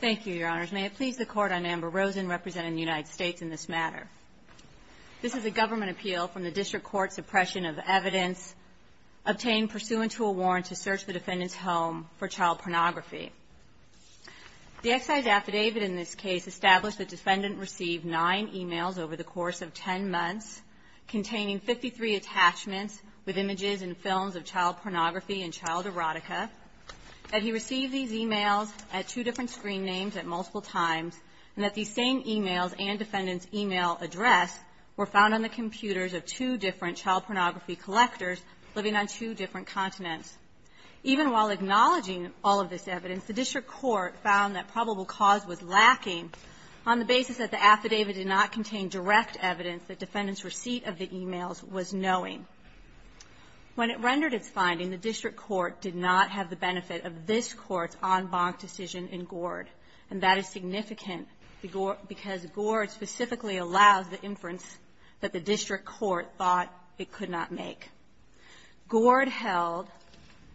Thank you, Your Honors. May it please the Court, I'm Amber Rosen representing the United States in this matter. This is a government appeal from the District Court, suppression of evidence obtained pursuant to a warrant to search the defendant's home for child pornography. The excised affidavit in this case established the defendant received nine emails over the course of ten months containing 53 attachments with images and films of child pornography and child erotica, that he received these emails at two different screen names at multiple times, and that these same emails and defendant's email address were found on the computers of two different child pornography collectors living on two different continents. Even while acknowledging all of this evidence, the District Court found that probable cause was lacking on the basis that the affidavit did not contain direct evidence that defendant's receipt of the affidavit's finding, the District Court did not have the benefit of this Court's en banc decision in Gord. And that is significant because Gord specifically allows the inference that the District Court thought it could not make. Gord held,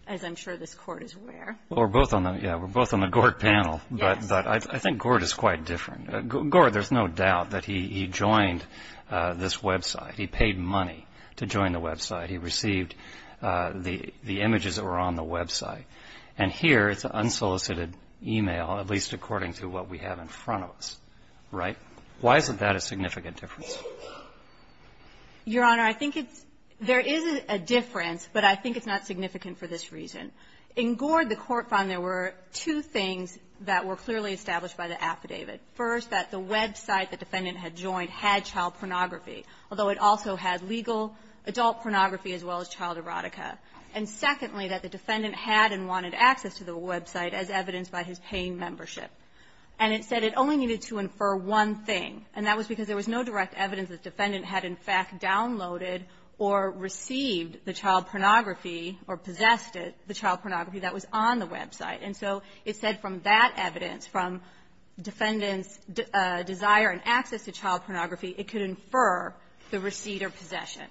as I'm sure this Court is aware of the Gord panel. Breyer. Well, we're both on the Gord panel. Kelley. Yes. Breyer. But I think Gord is quite different. Gord, there's no doubt that he joined this website. He paid money to join the website. He received the images that were on the website. And here, it's unsolicited email, at least according to what we have in front of us. Right? Why isn't that a significant difference? Kelley. Your Honor, I think it's – there is a difference, but I think it's not significant for this reason. In Gord, the Court found there were two things that were clearly established by the affidavit. First, that the website the defendant had joined had child pornography, although it also had legal adult pornography as well as child erotica. And secondly, that the defendant had and wanted access to the website as evidenced by his paying membership. And it said it only needed to infer one thing, and that was because there was no direct evidence that the defendant had, in fact, downloaded or received the child pornography or possessed it, the child pornography that was on the website. And so it said from that evidence, from defendant's desire and access to child pornography, it could infer the receipt or possession.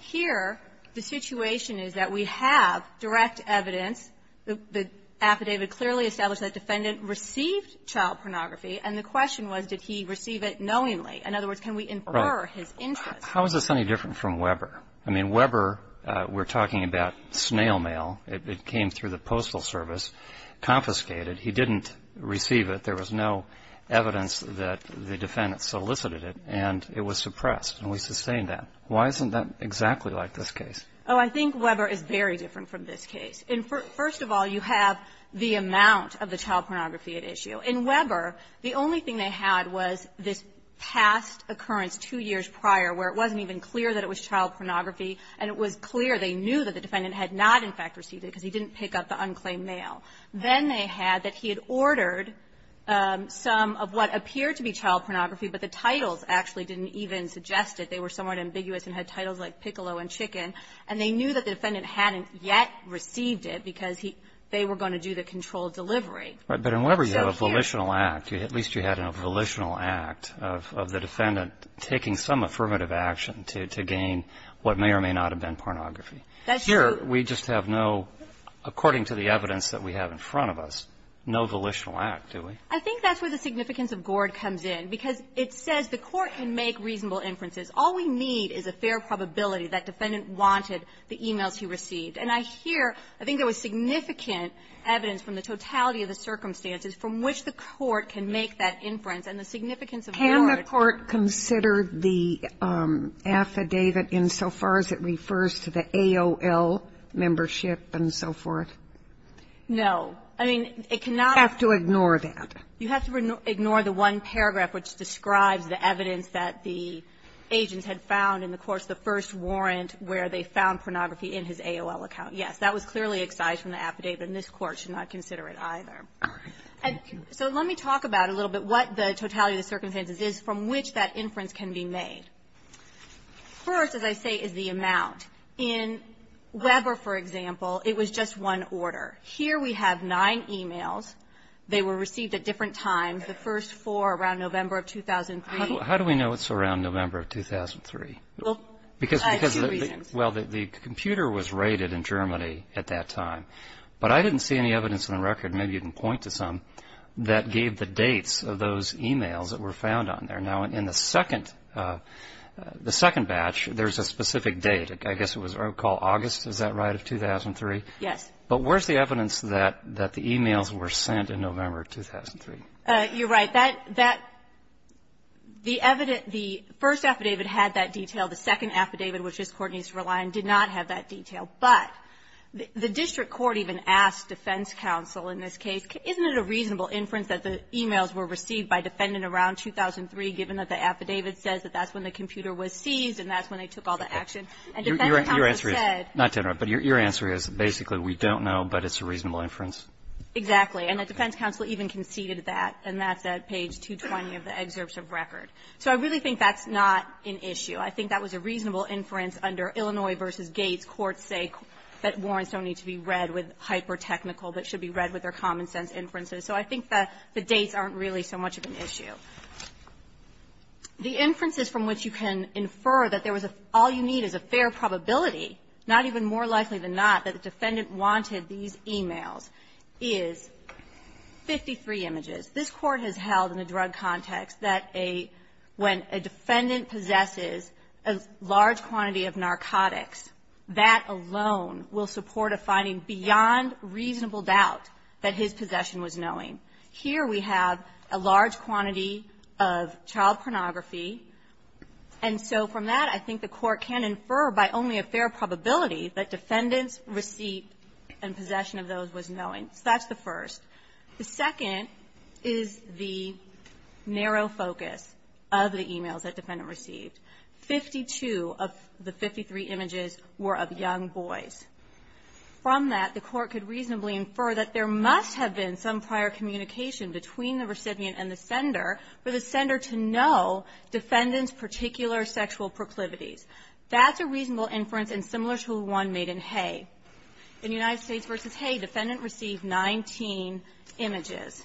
Here, the situation is that we have direct evidence. The affidavit clearly established that the defendant received child pornography, and the question was, did he receive it knowingly? In other words, can we infer his interest? How is this any different from Weber? I mean, Weber, we're talking about snail mail. It came through the Postal Service, confiscated. He didn't receive it. There was no evidence that the defendant solicited it, and it was suppressed. And we sustain that. Why isn't that exactly like this case? Oh, I think Weber is very different from this case. First of all, you have the amount of the child pornography at issue. In Weber, the only thing they had was this past occurrence two years prior where it wasn't even clear that it was child pornography, and it was clear they knew that the defendant had not, in fact, received it because he didn't pick up the unclaimed mail. Then they had that he had ordered some of what appeared to be child pornography, but the titles actually didn't even suggest it. They were somewhat ambiguous and had titles like piccolo and chicken. And they knew that the defendant hadn't yet received it because they were going to do the controlled delivery. But in Weber, you have a volitional act. At least you had a volitional act of the may or may not have been pornography. That's true. Here, we just have no, according to the evidence that we have in front of us, no volitional act, do we? I think that's where the significance of Gord comes in, because it says the court can make reasonable inferences. All we need is a fair probability that defendant wanted the e-mails he received. And I hear, I think there was significant evidence from the totality of the circumstances from which the court can make that inference, and the significance of Gord ---- No. I mean, it cannot be ---- You have to ignore that. You have to ignore the one paragraph which describes the evidence that the agents had found in the courts, the first warrant where they found pornography in his AOL account. Yes, that was clearly excised from the affidavit, and this Court should not consider it either. And so let me talk about it a little bit, what the totality of the circumstances is, from which that inference can be made. First, as I say, is the importance of the amount. In Weber, for example, it was just one order. Here we have nine e-mails. They were received at different times, the first four around November of 2003. How do we know it's around November of 2003? Well, I have two reasons. Well, the computer was rated in Germany at that time. But I didn't see any evidence on the record, maybe you can point to some, that gave the dates of those e-mails that were found on there. Now, in the second ---- the second batch, there's a specific date. I guess it was called August, is that right, of 2003? Yes. But where's the evidence that the e-mails were sent in November of 2003? You're right. That the evidence ---- the first affidavit had that detail. The second affidavit, which this Court needs to rely on, did not have that detail. But the district court even asked defense counsel in this case, isn't it a reasonable inference that the e-mails were received by defendant around 2003, given that the And defense counsel said ---- Your answer is, not to interrupt, but your answer is, basically, we don't know, but it's a reasonable inference. Exactly. And the defense counsel even conceded that. And that's at page 220 of the excerpts of record. So I really think that's not an issue. I think that was a reasonable inference under Illinois v. Gates. Courts say that warrants don't need to be read with hyper-technical, but should be read with their common-sense inferences. So I think that the dates aren't really so much of an issue. The inferences from which you can infer that there was a ---- all you need is a fair probability, not even more likely than not, that the defendant wanted these e-mails is 53 images. This Court has held in a drug context that a ---- when a defendant possesses a large quantity of narcotics, that alone will support a finding beyond reasonable doubt that his possession was knowing. Here we have a large quantity of child pornography. And so from that, I think the Court can infer by only a fair probability that defendant's receipt and possession of those was knowing. So that's the first. The second is the narrow focus of the e-mails that defendant received. Fifty-two of the 53 images were of young boys. From that, the Court could reasonably infer that there must have been some prior communication between the recipient and the sender for the sender to know defendant's particular sexual proclivities. That's a reasonable inference and similar to one made in Hay. In United States v. Hay, defendant received 19 images.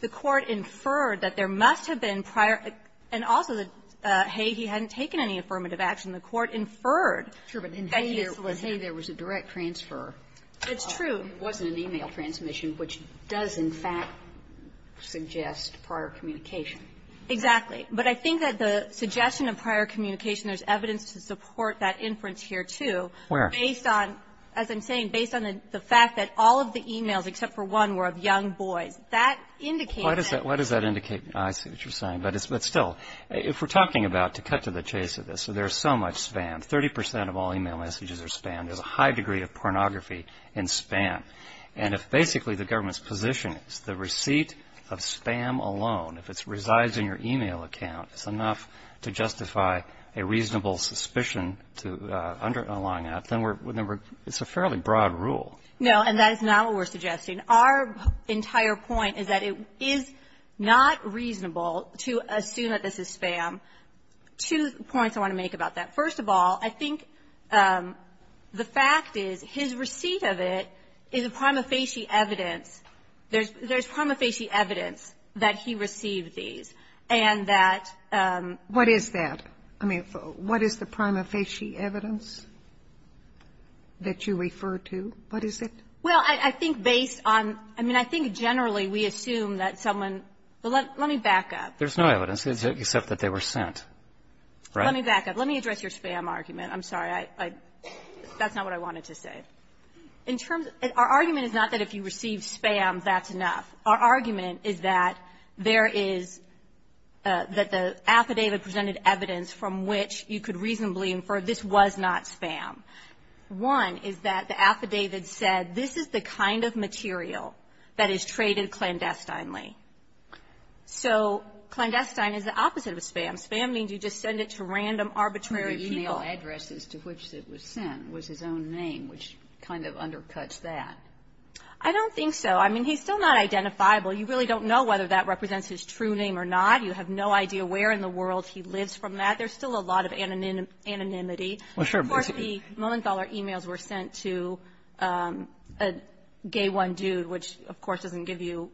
The Court inferred that there must have been prior ---- and also that Hay, he hadn't taken any affirmative action. The Court inferred that he solicited ---- Sotomayor, it's true. It wasn't an e-mail transmission, which does, in fact, suggest prior communication. Exactly. But I think that the suggestion of prior communication, there's evidence to support that inference here, too. Where? Based on, as I'm saying, based on the fact that all of the e-mails, except for one, were of young boys. That indicates that ---- Why does that indicate ---- I see what you're saying. But still, if we're talking about, to cut to the chase of this, there's so much span. Thirty percent of all e-mail messages are spanned. There's a high degree of pornography in span. And if basically the government's position is the receipt of spam alone, if it resides in your e-mail account, is enough to justify a reasonable suspicion to underline that, then we're ---- it's a fairly broad rule. No. And that is not what we're suggesting. Our entire point is that it is not reasonable to assume that this is spam. Two points I want to make about that. First of all, I think the fact is his receipt of it is a prima facie evidence. There's prima facie evidence that he received these and that ---- What is that? I mean, what is the prima facie evidence that you refer to? What is it? Well, I think based on ---- I mean, I think generally we assume that someone ---- let me back up. There's no evidence, except that they were sent. Right? Let me back up. Let me address your spam argument. I'm sorry. I ---- that's not what I wanted to say. In terms of ---- our argument is not that if you receive spam, that's enough. Our argument is that there is ---- that the affidavit presented evidence from which you could reasonably infer this was not spam. One is that the affidavit said this is the kind of material that is traded clandestinely. So clandestine is the opposite of spam. Spam means you just send it to random, arbitrary people. The email address to which it was sent was his own name, which kind of undercuts that. I don't think so. I mean, he's still not identifiable. You really don't know whether that represents his true name or not. You have no idea where in the world he lives from that. There's still a lot of anonymity. Well, sure. Of course, the Molenthaler emails were sent to a gay one dude, which, of course, doesn't give you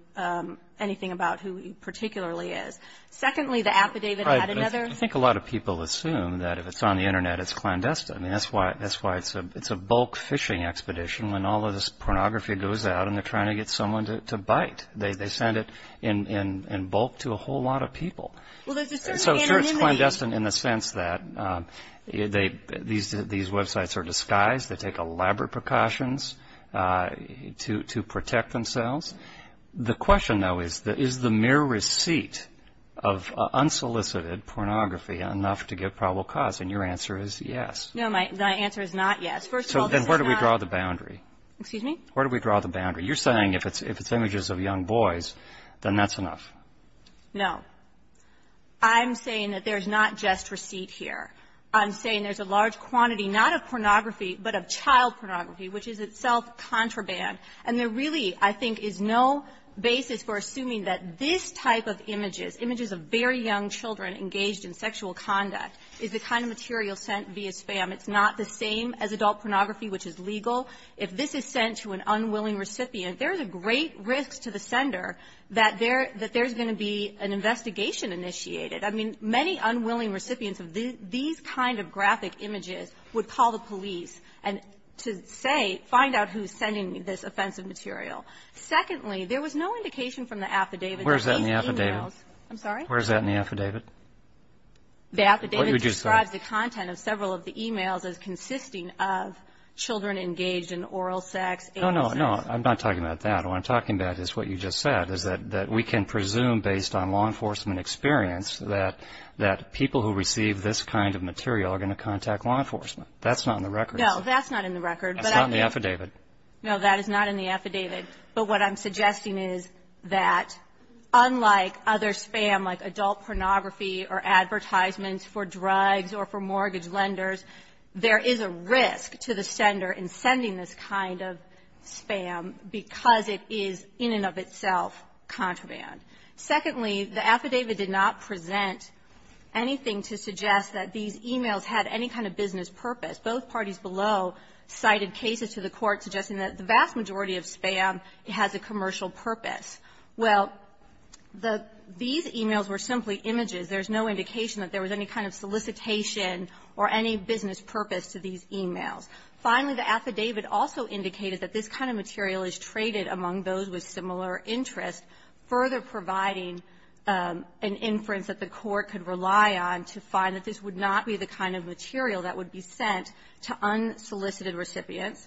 anything about who he particularly is. Secondly, the affidavit had another ---- I think a lot of people assume that if it's on the Internet, it's clandestine. I mean, that's why it's a bulk phishing expedition when all of this pornography goes out and they're trying to get someone to bite. They send it in bulk to a whole lot of people. Well, there's a certain anonymity ---- So, sure, it's clandestine in the sense that these websites are disguised. They take elaborate precautions to protect themselves. The question, though, is, is the mere receipt of unsolicited pornography enough to give probable cause? And your answer is yes. No, my answer is not yes. First of all, this is not ---- Then where do we draw the boundary? Excuse me? Where do we draw the boundary? You're saying if it's images of young boys, then that's enough. No. I'm saying that there's not just receipt here. I'm saying there's a large quantity, not of pornography, but of child pornography, which is itself contraband. And there really, I think, is no basis for assuming that this type of images, images of very young children engaged in sexual conduct, is the kind of material sent via spam. It's not the same as adult pornography, which is legal. If this is sent to an unwilling recipient, there's a great risk to the sender that there's going to be an investigation initiated. I mean, many unwilling recipients of these kind of graphic images would call the offensive material. Secondly, there was no indication from the affidavit that these emails ---- Where's that in the affidavit? I'm sorry? Where's that in the affidavit? The affidavit describes the content of several of the emails as consisting of children engaged in oral sex, ---- No, no, no. I'm not talking about that. What I'm talking about is what you just said, is that we can presume, based on law enforcement experience, that people who receive this kind of material are going to contact law enforcement. That's not in the record. No, that's not in the record. That's not in the affidavit. No, that is not in the affidavit. But what I'm suggesting is that, unlike other spam, like adult pornography or advertisements for drugs or for mortgage lenders, there is a risk to the sender in sending this kind of spam because it is, in and of itself, contraband. Secondly, the affidavit did not present anything to suggest that these emails had any kind of business purpose. Both parties below cited cases to the Court suggesting that the vast majority of spam has a commercial purpose. Well, the ---- these emails were simply images. There's no indication that there was any kind of solicitation or any business purpose to these emails. Finally, the affidavit also indicated that this kind of material is traded among those with similar interests, further providing an inference that the Court could to unsolicited recipients.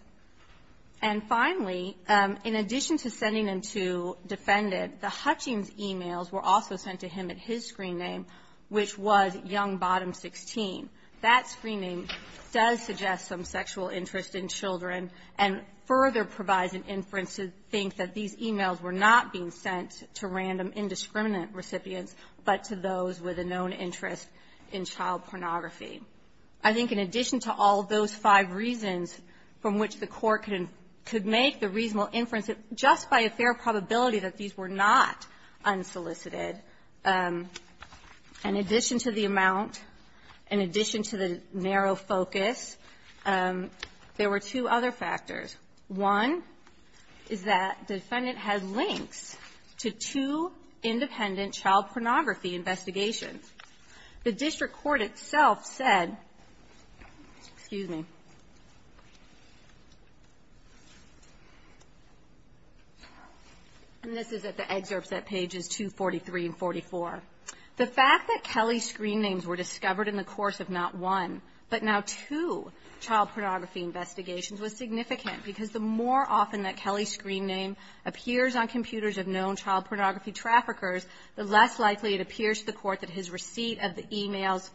And finally, in addition to sending them to defendant, the Hutchings' emails were also sent to him at his screen name, which was Young Bottom 16. That screen name does suggest some sexual interest in children and further provides an inference to think that these emails were not being sent to random indiscriminate recipients, but to those with a known interest in child pornography. I think in addition to all of those five reasons from which the Court could make the reasonable inference that just by a fair probability that these were not unsolicited, in addition to the amount, in addition to the narrow focus, there were two other factors. One is that the defendant had links to two independent child pornography investigations. The district court itself said, excuse me, and this is at the excerpts at pages 243 and 44, the fact that Kelly's screen names were discovered in the course of not one, but now two child pornography investigations was significant because the more often that Kelly's screen name appears on computers of known child pornography traffickers, the less likely it appears to the Court that his receipt of the emails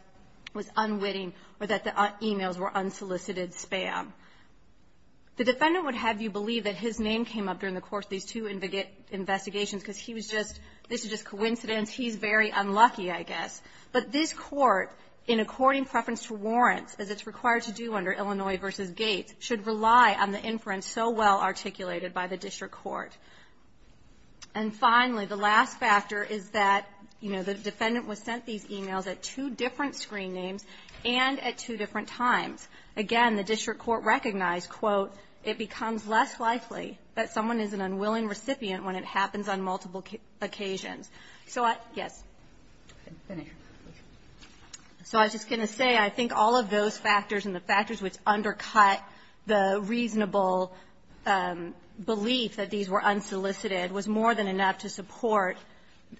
was unwitting or that the emails were unsolicited spam. The defendant would have you believe that his name came up during the course of these two investigations because he was just, this is just coincidence, he's very unlucky, I guess. But this Court, in according preference to warrants, as it's required to do under Illinois v. Gates, should rely on the inference so well articulated by the district court. And finally, the last factor is that, you know, the defendant was sent these emails at two different screen names and at two different times. Again, the district court recognized, quote, it becomes less likely that someone is an unwilling recipient when it happens on multiple occasions. So I, yes. So I was just going to say, I think all of those factors and the factors which undercut the reasonable belief that these were unsolicited was more than enough to support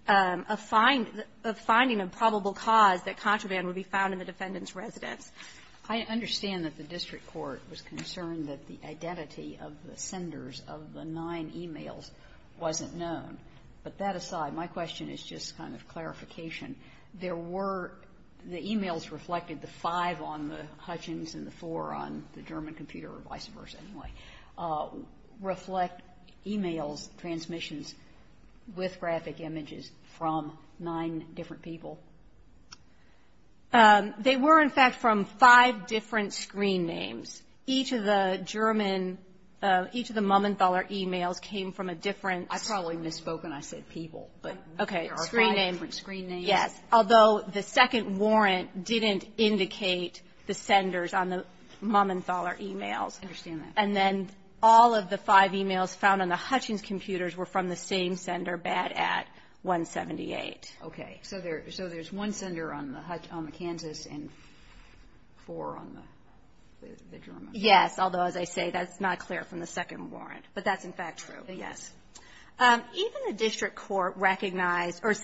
a finding of probable cause that contraband would be found in the defendant's residence. I understand that the district court was concerned that the identity of the senders of the nine emails wasn't known. But that aside, my question is just kind of clarification. There were, the emails reflected the five on the Hutchins and the four on the German computer, or vice versa anyway, reflect emails, transmissions with graphic images from nine different people? They were, in fact, from five different screen names. Each of the German, each of the Mumenthaler emails came from a different I probably misspoken. I said people. But there are five different screen names. Yes. Although the second warrant didn't indicate the senders on the Mumenthaler emails. I understand that. And then all of the five emails found on the Hutchins computers were from the same sender, BAD-AT-178. Okay. So there's one sender on the Kansas and four on the German. Yes. Although, as I say, that's not clear from the second warrant. But that's, in fact, true. Yes. Even the district court recognized, or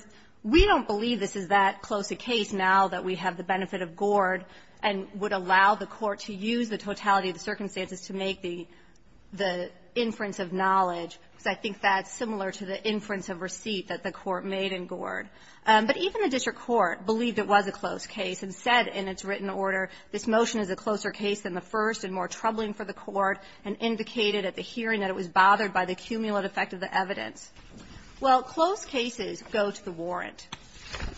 we don't believe this is that close a case now that we have the benefit of Gord and would allow the court to use the totality of the circumstances to make the inference of knowledge, because I think that's similar to the inference of receipt that the court made in Gord. But even the district court believed it was a close case and said in its written order, this motion is a closer case than the first and more troubling for the court and indicated at the hearing that it was bothered by the cumulative effect of the evidence. Well, close cases go to the warrant.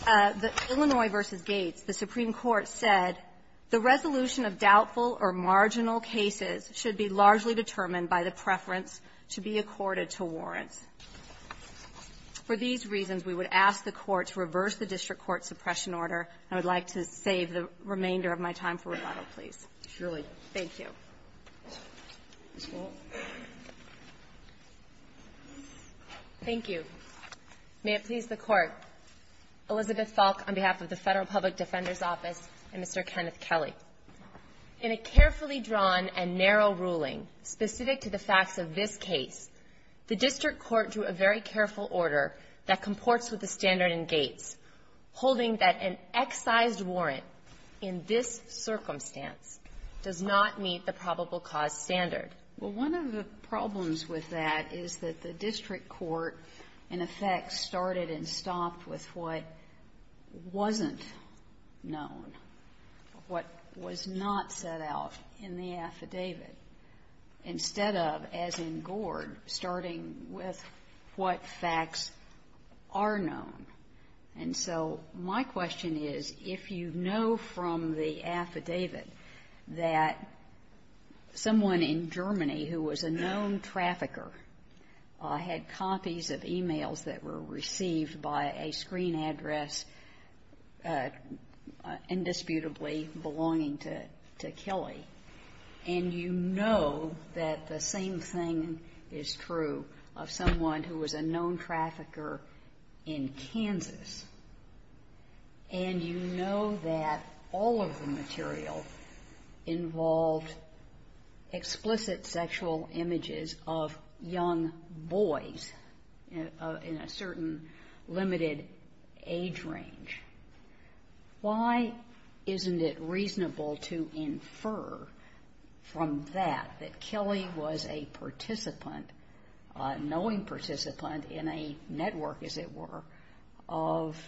The Illinois v. Gates, the Supreme Court said the resolution of doubtful or marginal cases should be largely determined by the preference to be accorded to warrants. For these reasons, we would ask the court to reverse the district court suppression order, and I would like to save the remainder of my time for rebuttal, please. Thank you. Ms. Wall. Thank you. May it please the Court. Elizabeth Falk on behalf of the Federal Public Defender's Office and Mr. Kenneth Kelly. In a carefully drawn and narrow ruling specific to the facts of this case, the district court drew a very careful order that comports with the standard in Gates, holding that an excised warrant in this circumstance does not meet the probable cause standard. Well, one of the problems with that is that the district court, in effect, started and stopped with what wasn't known, what was not set out in the affidavit, instead of, as in Gord, starting with what facts are known. And so my question is, if you know from the affidavit that someone in Germany who was a known trafficker had copies of e-mails that were received by a screen address indisputably belonging to Kelly, and you know that the same thing is true of someone who was a known trafficker in Kansas, and you know that all of the material involved explicit sexual images of young boys in a certain limited age range, and you know that all of the material involved explicit sexual images of young boys in a certain limited age range, why isn't it reasonable to infer from that that Kelly was a participant, knowing participant in a network, as it were, of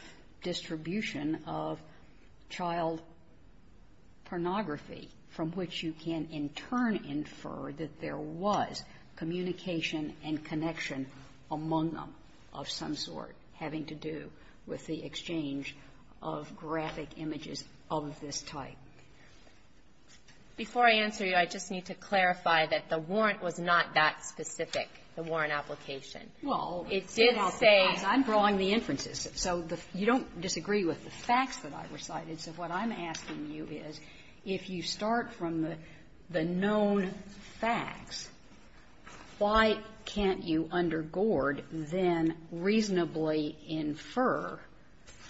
distribution of child pornography from which you can, in turn, infer that there was communication and connection among them of some sort having to do with the exchange of graphic images of this type? Before I answer you, I just need to clarify that the warrant was not that specific, the warrant application. Well, it did say the facts. I'm drawing the inferences. So you don't disagree with the facts that I recited. So what I'm asking you is, if you start from the known facts, why can't you, under Gord, then reasonably infer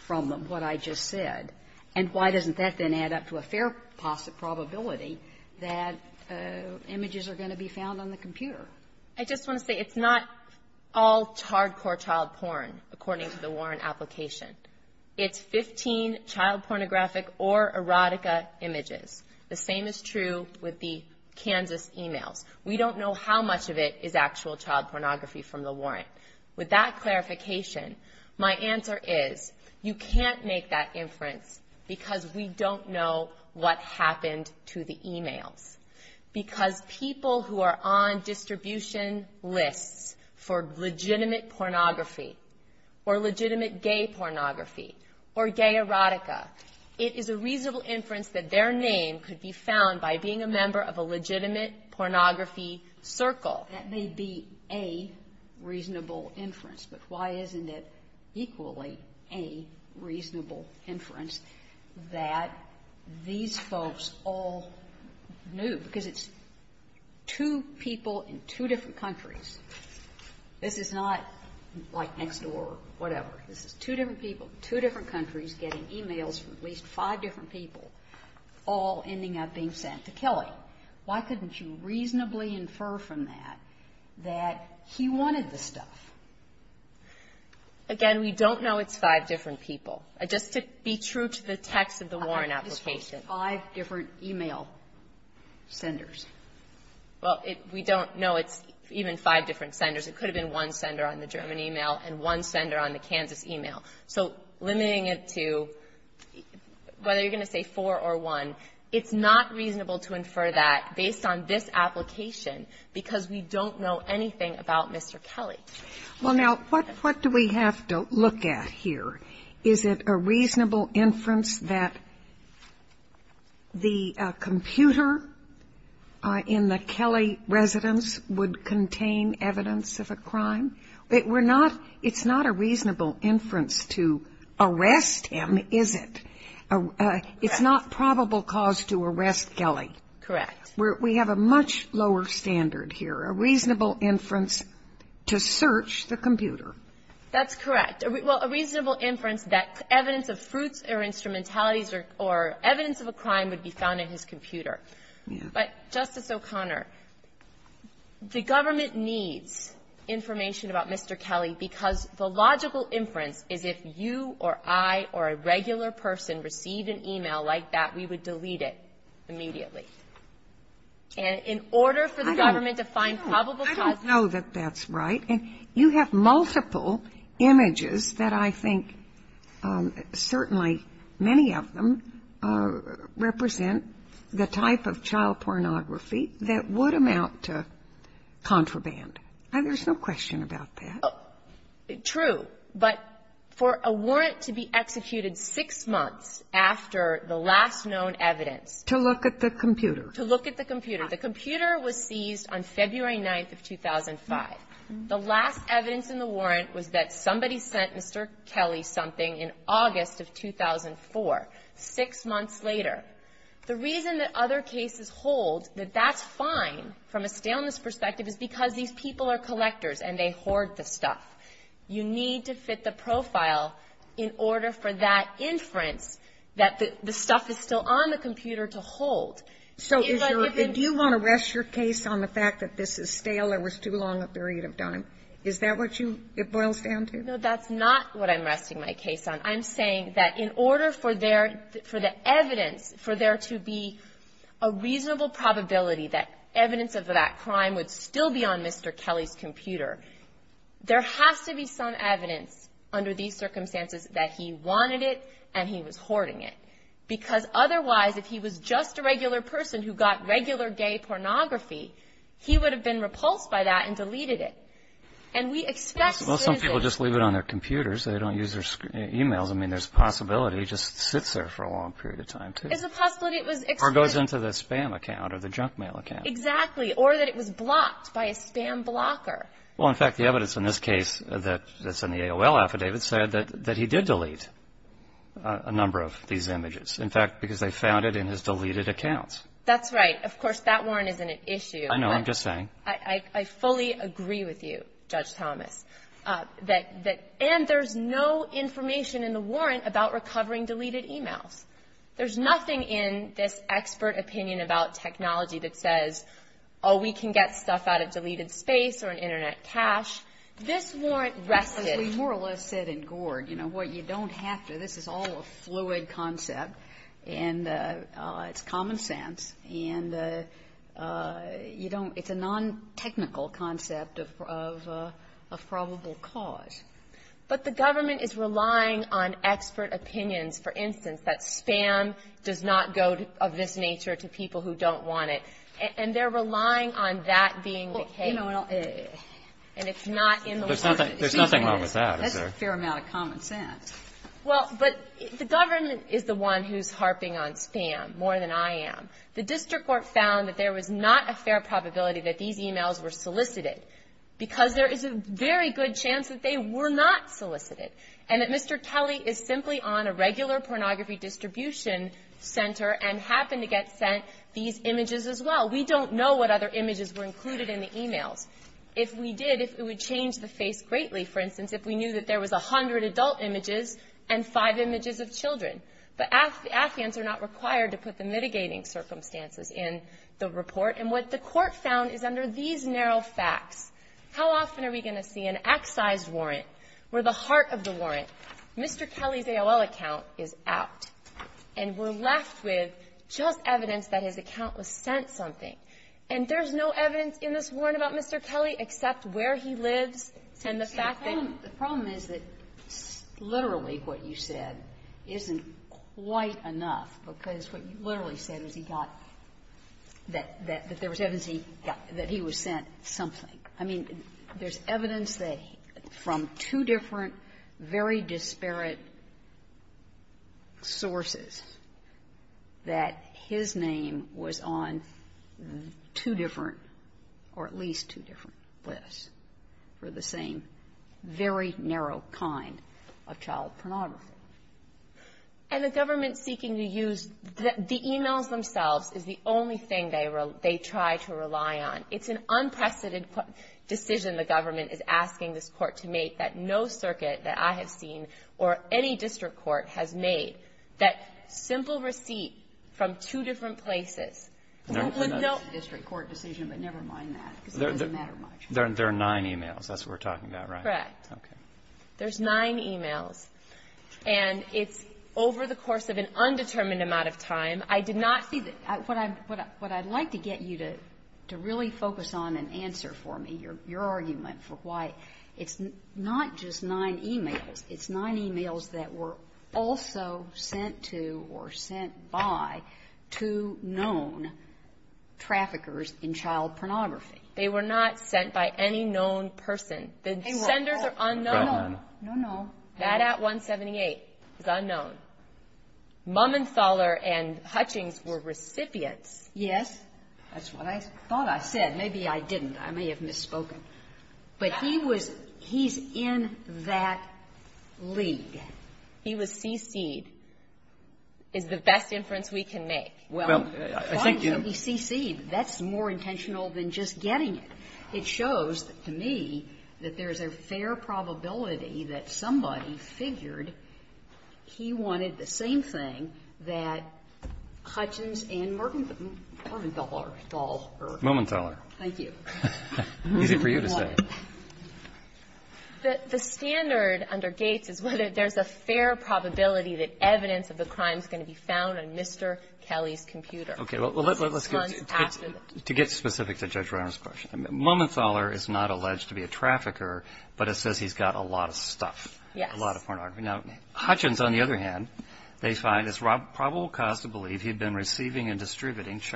from what I just said, and why doesn't that then add up to a fair possibility that images are going to be found on the computer? I just want to say it's not all hardcore child porn, according to the warrant application. It's 15 child pornographic or erotica images. The same is true with the Kansas emails. We don't know how much of it is actual child pornography from the warrant. With that clarification, my answer is, you can't make that inference because we don't know what happened to the emails, because people who are on distribution lists for legitimate pornography or legitimate gay pornography or gay erotica, it is a reasonable inference that their name could be found by being a member of a legitimate pornography circle. That may be a reasonable inference, but why isn't it equally a reasonable inference that these folks all knew, because it's two people in two different countries. This is not like next door or whatever. This is two different people, two different countries getting emails from at least five different people, all ending up being sent to Kelly. Why couldn't you reasonably infer from that that he wanted the stuff? Again, we don't know it's five different people. Just to be true to the text of the warrant application. I think it's five different email senders. Well, we don't know it's even five different senders. It could have been one sender on the German email and one sender on the Kansas email. So limiting it to whether you're going to say four or one, it's not reasonable to infer that based on this application because we don't know anything about Mr. Kelly. Well, now, what do we have to look at here? Is it a reasonable inference that the computer in the Kelly residence would contain evidence of a crime? We're not – it's not a reasonable inference to arrest him, is it? It's not probable cause to arrest Kelly. Correct. We have a much lower standard here, a reasonable inference to search the computer. That's correct. Well, a reasonable inference that evidence of fruits or instrumentalities or evidence of a crime would be found in his computer. But, Justice O'Connor, the government needs information about Mr. Kelly because the logical inference is if you or I or a regular person received an email like that, we would delete it immediately. And in order for the government to find probable cause to arrest him. I don't know that that's right. And you have multiple images that I think certainly many of them represent the type of child pornography that would amount to contraband. There's no question about that. True. But for a warrant to be executed six months after the last known evidence. To look at the computer. To look at the computer. The computer was seized on February 9th of 2005. The last evidence in the warrant was that somebody sent Mr. Kelly something in August of 2004, six months later. The reason that other cases hold that that's fine from a staleness perspective is because these people are collectors and they hoard the stuff. You need to fit the profile in order for that inference that the stuff is still on the computer to hold. So is your, do you want to rest your case on the fact that this is stale or was too long a period of time? Is that what you, it boils down to? No, that's not what I'm resting my case on. I'm saying that in order for there, for the evidence, for there to be a reasonable probability that evidence of that crime would still be on Mr. Kelly's computer, there has to be some evidence under these circumstances that he wanted it and he was hoarding it. Because otherwise, if he was just a regular person who got regular gay pornography, he would have been repulsed by that and deleted it. And we expect citizen. Well, some people just leave it on their computers. They don't use their e-mails. I mean, there's a possibility he just sits there for a long period of time too. It's a possibility it was. Or goes into the spam account or the junk mail account. Exactly. Or that it was blocked by a spam blocker. Well, in fact, the evidence in this case that's in the AOL affidavit said that he did delete a number of these images. In fact, because they found it in his deleted accounts. That's right. Of course, that warrant isn't an issue. I know. I'm just saying. I fully agree with you, Judge Thomas. And there's no information in the warrant about recovering deleted e-mails. There's nothing in this expert opinion about technology that says, oh, we can get stuff out of deleted space or in Internet cache. This warrant rested. As we more or less said in Gord, you know, what you don't have to. This is all a fluid concept. And it's common sense. And you don't – it's a non-technical concept of probable cause. But the government is relying on expert opinions. For instance, that spam does not go of this nature to people who don't want it. And they're relying on that being the case. And it's not in the warrant. There's nothing wrong with that. That's a fair amount of common sense. Well, but the government is the one who's harping on spam more than I am. The district court found that there was not a fair probability that these e-mails were solicited because there is a very good chance that they were not solicited and that Mr. Kelly is simply on a regular pornography distribution center and happened to get sent these images as well. We don't know what other images were included in the e-mails. If we did, if it would change the face greatly, for instance, if we knew that there was a hundred adult images and five images of children. But affidavits are not required to put the mitigating circumstances in the report. And what the court found is under these narrow facts, how often are we going to see an excise warrant where the heart of the warrant, Mr. Kelly's AOL account, is out. And we're left with just evidence that his account was sent something. And there's no evidence in this warrant about Mr. Kelly except where he lives and the fact that he was sent something. The problem is that literally what you said isn't quite enough, because what you literally said was he got that there was evidence that he was sent something. I mean, there's evidence that from two different, very disparate sources, that his name was on two different or at least two different lists for the same very narrow kind of child pornography. And the government seeking to use the e-mails themselves is the only thing they try to rely on. It's an unprecedented decision the government is asking this Court to make that no circuit that I have seen or any district court has made that simple receipt from two different places. No one knows the district court decision, but never mind that, because it doesn't matter much. There are nine e-mails. That's what we're talking about, right? Right. Okay. There's nine e-mails. And it's over the course of an undetermined amount of time. I did not see the – what I'd like to get you to really focus on and answer for me, your argument for why it's not just nine e-mails. It's nine e-mails that were also sent to or sent by two known traffickers in child pornography. They were not sent by any known person. The senders are unknown. No, no. That at 178 is unknown. Mummenthaler and Hutchings were recipients. Yes. That's what I thought I said. Maybe I didn't. I may have misspoken. But he was – he's in that league. He was cc'd. It's the best inference we can make. Well, I think you – Why would he cc'd? That's more intentional than just getting it. It shows, to me, that there's a fair probability that somebody figured he wanted the same thing that Hutchings and Murmanthaler thought. Mummenthaler. Thank you. Easy for you to say. The standard under Gates is whether there's a fair probability that evidence of the crime is going to be found on Mr. Kelly's computer. Okay. Well, let's get specific to Judge Reiner's question. Mummenthaler is not alleged to be a trafficker, but it says he's got a lot of stuff. Yes. A lot of pornography. Now, Hutchings, on the other hand, they find it's probable cause to believe he'd been That's in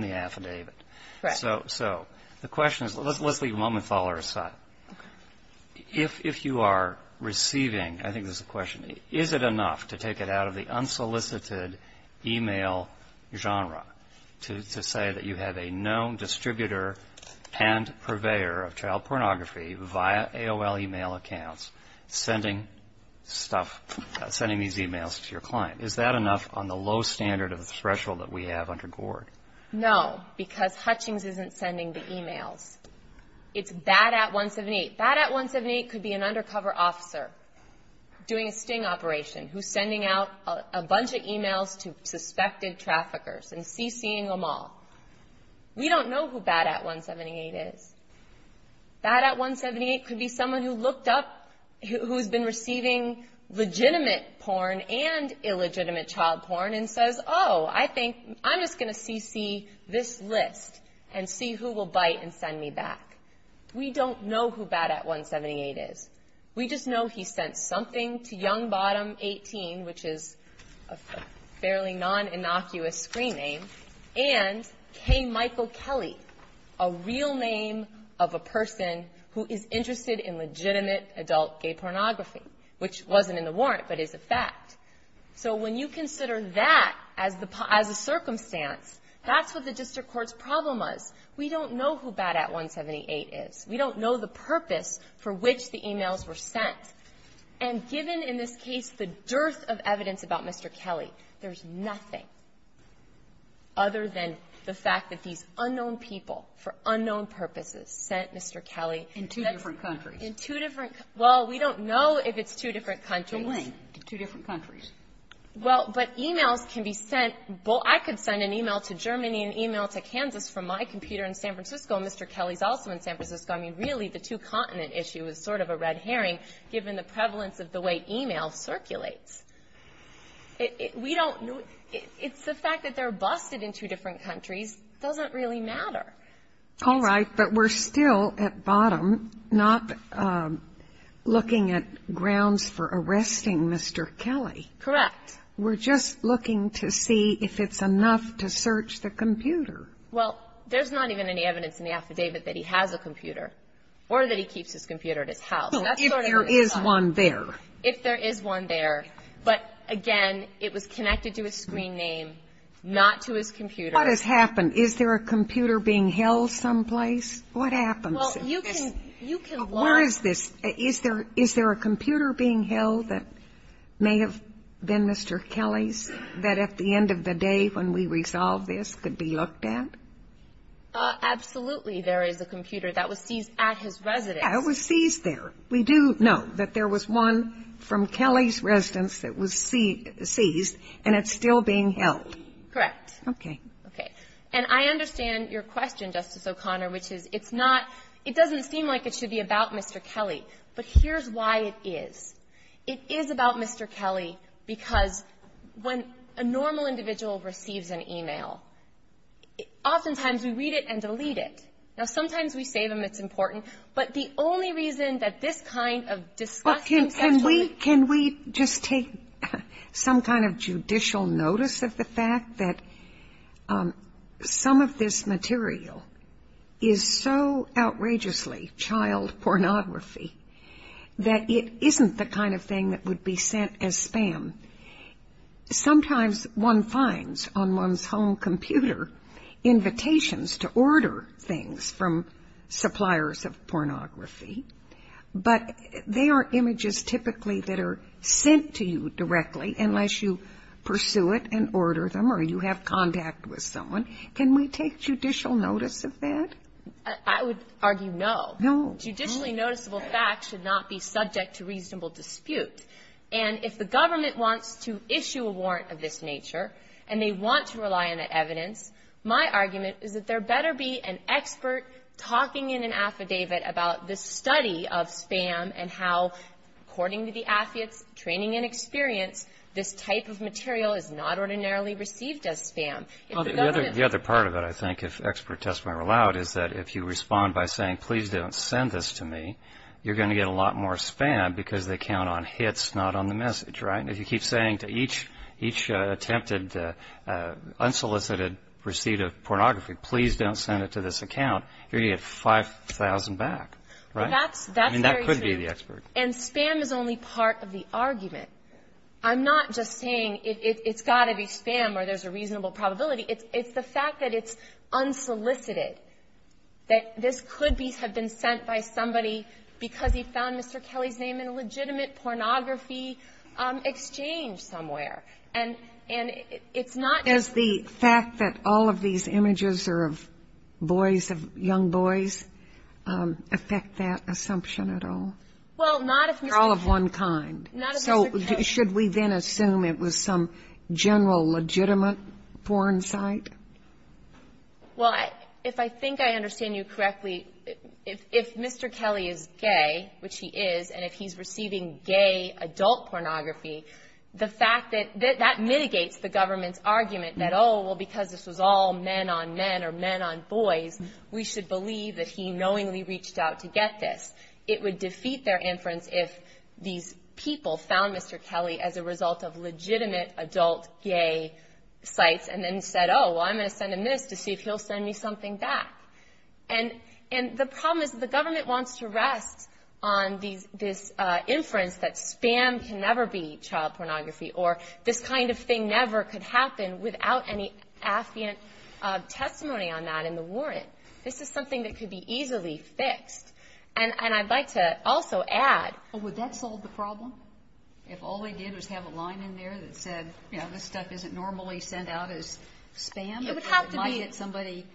the affidavit. Right. So the question is – let's leave Mummenthaler aside. Okay. If you are receiving – I think there's a question. Is it enough to take it out of the unsolicited e-mail genre to say that you have a known distributor and purveyor of child pornography via AOL e-mail accounts sending stuff – sending these e-mails to your client? Is that enough on the low standard of the threshold that we have under Gord? No, because Hutchings isn't sending the e-mails. It's BAD-AT-178. BAD-AT-178 could be an undercover officer doing a sting operation who's sending out a bunch of e-mails to suspected traffickers and CCing them all. We don't know who BAD-AT-178 is. BAD-AT-178 could be someone who looked up – who's been receiving legitimate porn and illegitimate child porn and says, Oh, I think I'm just going to CC this list and see who will bite and send me back. We don't know who BAD-AT-178 is. We just know he sent something to Youngbottom18, which is a fairly non-innocuous screen name, and K. Michael Kelly, a real name of a person who is interested in legitimate adult gay pornography, which wasn't in the warrant but is a fact. So when you consider that as a circumstance, that's what the district court's problem is. We don't know who BAD-AT-178 is. We don't know the purpose for which the e-mails were sent. And given, in this case, the dearth of evidence about Mr. Kelly, there's nothing. Other than the fact that these unknown people, for unknown purposes, sent Mr. Kelly. In two different countries. In two different – well, we don't know if it's two different countries. To when? Two different countries. Well, but e-mails can be sent – I could send an e-mail to Germany, an e-mail to Kansas from my computer in San Francisco, and Mr. Kelly's also in San Francisco. I mean, really, the two-continent issue is sort of a red herring, given the prevalence of the way e-mail circulates. We don't know. It's the fact that they're busted in two different countries doesn't really matter. All right. But we're still, at bottom, not looking at grounds for arresting Mr. Kelly. Correct. We're just looking to see if it's enough to search the computer. Well, there's not even any evidence in the affidavit that he has a computer or that he keeps his computer at his house. So if there is one there. If there is one there. But, again, it was connected to his screen name, not to his computer. What has happened? Is there a computer being held someplace? What happens? Well, you can – you can look. Where is this? Is there a computer being held that may have been Mr. Kelly's, that at the end of the day when we resolve this could be looked at? Absolutely, there is a computer that was seized at his residence. It was seized there. We do know that there was one from Kelly's residence that was seized, and it's still being held. Correct. Okay. Okay. And I understand your question, Justice O'Connor, which is it's not – it doesn't seem like it should be about Mr. Kelly. But here's why it is. It is about Mr. Kelly because when a normal individual receives an e-mail, oftentimes we read it and delete it. Now, sometimes we save them. It's important. But the only reason that this kind of disgusting – Well, can we – can we just take some kind of judicial notice of the fact that some of this material is so outrageously child pornography that it isn't the kind of thing that would be sent as spam. Sometimes one finds on one's home computer invitations to order things from suppliers of pornography, but they are images typically that are sent to you directly unless you pursue it and order them or you have contact with someone. Can we take judicial notice of that? I would argue no. No. Judicially noticeable facts should not be subject to reasonable dispute. And if the government wants to issue a warrant of this nature and they want to rely on the evidence, my argument is that there better be an expert talking in an affidavit about the study of spam and how, according to the affidavits, training and experience, this type of material is not ordinarily received as spam. If the government – The other part of it, I think, if expert testimony were allowed, is that if you respond by saying, please don't send this to me, you're going to get a lot more spam because they count on hits, not on the message, right? And if you keep saying to each attempted unsolicited receipt of pornography, please don't send it to this account, you're going to get 5,000 back, right? That's very true. I mean, that could be the expert. And spam is only part of the argument. I'm not just saying it's got to be spam or there's a reasonable probability. It's the fact that it's unsolicited, that this could have been sent by somebody because he found Mr. Kelly's name in a legitimate pornography exchange somewhere. And it's not just the fact that all of these images are of boys, of young boys, affect that assumption at all? Well, not if Mr. Kelly – They're all of one kind. Not if Mr. Kelly – So should we then assume it was some general legitimate porn site? Well, if I think I understand you correctly, if Mr. Kelly is gay, which he is, and if he's receiving gay adult pornography, that mitigates the government's argument that, oh, well, because this was all men on men or men on boys, we should believe that he knowingly reached out to get this. It would defeat their inference if these people found Mr. Kelly as a result of legitimate adult gay sites and then said, oh, well, I'm going to send him this to see if he'll send me something back. And the problem is the government wants to rest on this inference that spam can never be child pornography or this kind of thing never could happen without any affiant testimony on that in the warrant. This is something that could be easily fixed. And I'd like to also add – Well, would that solve the problem? If all they did was have a line in there that said, you know, this stuff isn't normally sent out as spam? It would have to be – It might get somebody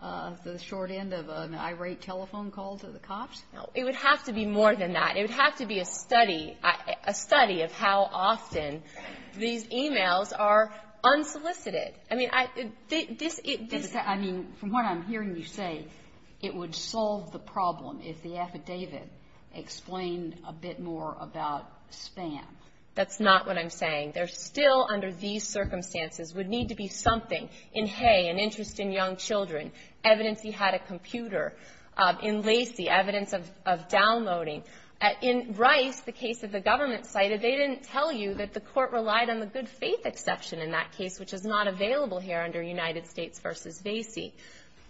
the short end of an irate telephone call to the cops? No. It would have to be more than that. It would have to be a study, a study of how often these e-mails are unsolicited. I mean, this – I mean, from what I'm hearing you say, it would solve the problem if the affidavit explained a bit more about spam. That's not what I'm saying. There still, under these circumstances, would need to be something in Hay, an interest in young children, evidence he had a computer, in Lacy, evidence of downloading. In Rice, the case that the government cited, they didn't tell you that the court relied on the good faith exception in that case, which is not available here under United States v. Lacy.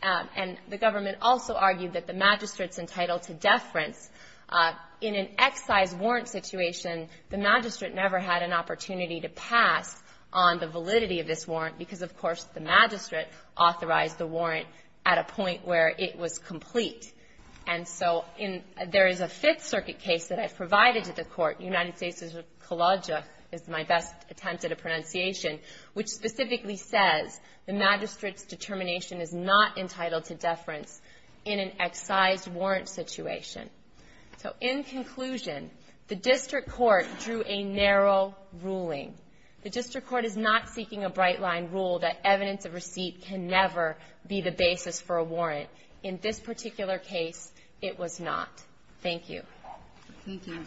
And the government also argued that the magistrate's entitled to deference. In an excise warrant situation, the magistrate never had an opportunity to pass on the validity of this warrant, because, of course, the magistrate authorized the warrant at a point where it was complete. And so in – there is a Fifth Circuit case that I provided to the court. United States v. Kolodziej is my best attempt at a pronunciation, which specifically says the magistrate's determination is not entitled to deference in an excise warrant situation. So in conclusion, the district court drew a narrow ruling. The district court is not seeking a bright-line rule that evidence of receipt can never be the basis for a warrant. In this particular case, it was not. Thank you. Thank you.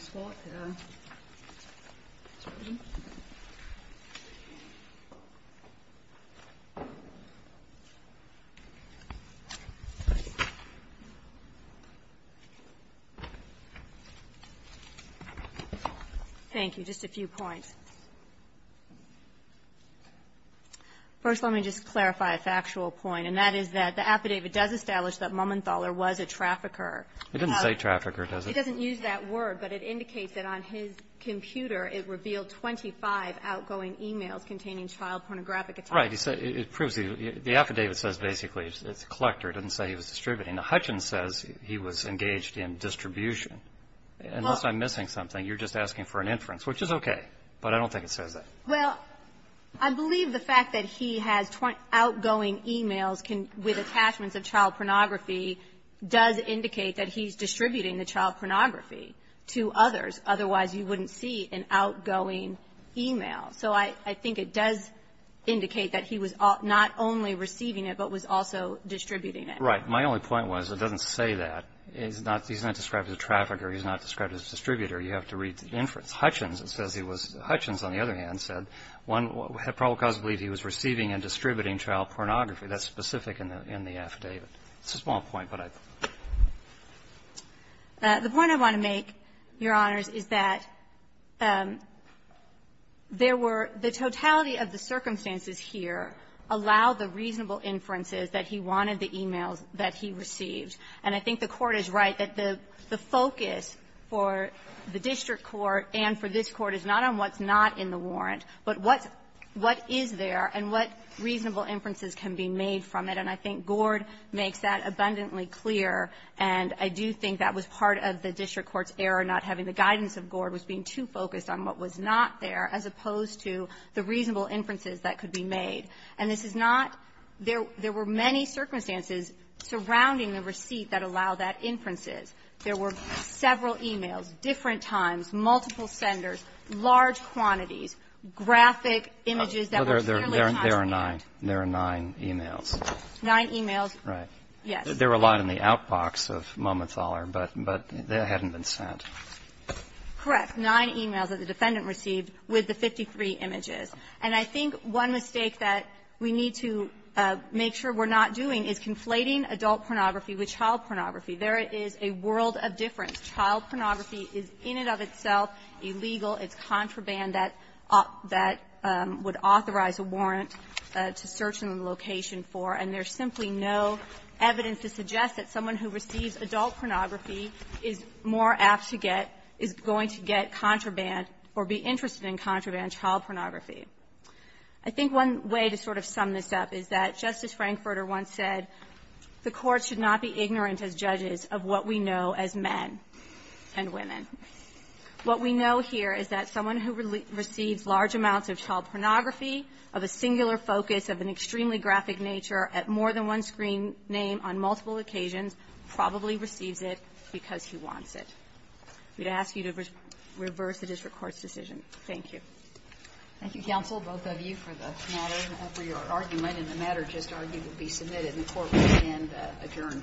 Just a few points. First, let me just clarify a factual point, and that is that the affidavit does establish that Momenthaler was a trafficker. It doesn't say trafficker, does it? It doesn't use that word, but it indicates that on his computer it revealed 25 outgoing e-mails containing child pornographic attachments. Right. It proves the affidavit says basically it's a collector. It doesn't say he was distributing. The Hutchins says he was engaged in distribution. Unless I'm missing something, you're just asking for an inference, which is okay. But I don't think it says that. Well, I believe the fact that he has outgoing e-mails with attachments of child pornography does indicate that he's distributing the child pornography to others. Otherwise, you wouldn't see an outgoing e-mail. So I think it does indicate that he was not only receiving it, but was also distributing it. Right. My only point was it doesn't say that. He's not described as a trafficker. He's not described as a distributor. You have to read the inference. Hutchins, it says he was. Hutchins, on the other hand, said one probable cause believed he was receiving and distributing child pornography. That's specific in the affidavit. It's a small point, but I don't know. The point I want to make, Your Honors, is that there were the totality of the circumstances here allowed the reasonable inferences that he wanted the e-mails that he received. And I think the Court is right that the focus for the district court and for this court is not on what's not in the warrant, but what is there and what reasonable inferences can be made from it. And I think Gord makes that abundantly clear. And I do think that was part of the district court's error, not having the guidance of Gord, was being too focused on what was not there, as opposed to the reasonable inferences that could be made. And this is not – there were many circumstances surrounding the receipt that allow that inferences. There were several e-mails, different times, multiple senders, large quantities, graphic images that were clearly not in it. There are nine. There are nine e-mails. Nine e-mails. Right. Yes. There were a lot in the outbox of Momenthaler, but they hadn't been sent. Correct. Nine e-mails that the defendant received with the 53 images. And I think one mistake that we need to make sure we're not doing is conflating adult pornography with child pornography. There is a world of difference. Child pornography is in and of itself illegal. It's contraband that would authorize a warrant to search a location for, and there's simply no evidence to suggest that someone who receives adult pornography is more apt to get – is going to get contraband or be interested in contraband child pornography. I think one way to sort of sum this up is that, just as Frankfurter once said, the courts should not be ignorant as judges of what we know as men and women. What we know here is that someone who receives large amounts of child pornography of a singular focus of an extremely graphic nature at more than one screen name on multiple occasions probably receives it because he wants it. We'd ask you to reverse the district court's decision. Thank you. Thank you, counsel, both of you, for the matter and for your argument. And the matter just argued will be submitted and the court will then adjourn. All rise. Court is adjourned.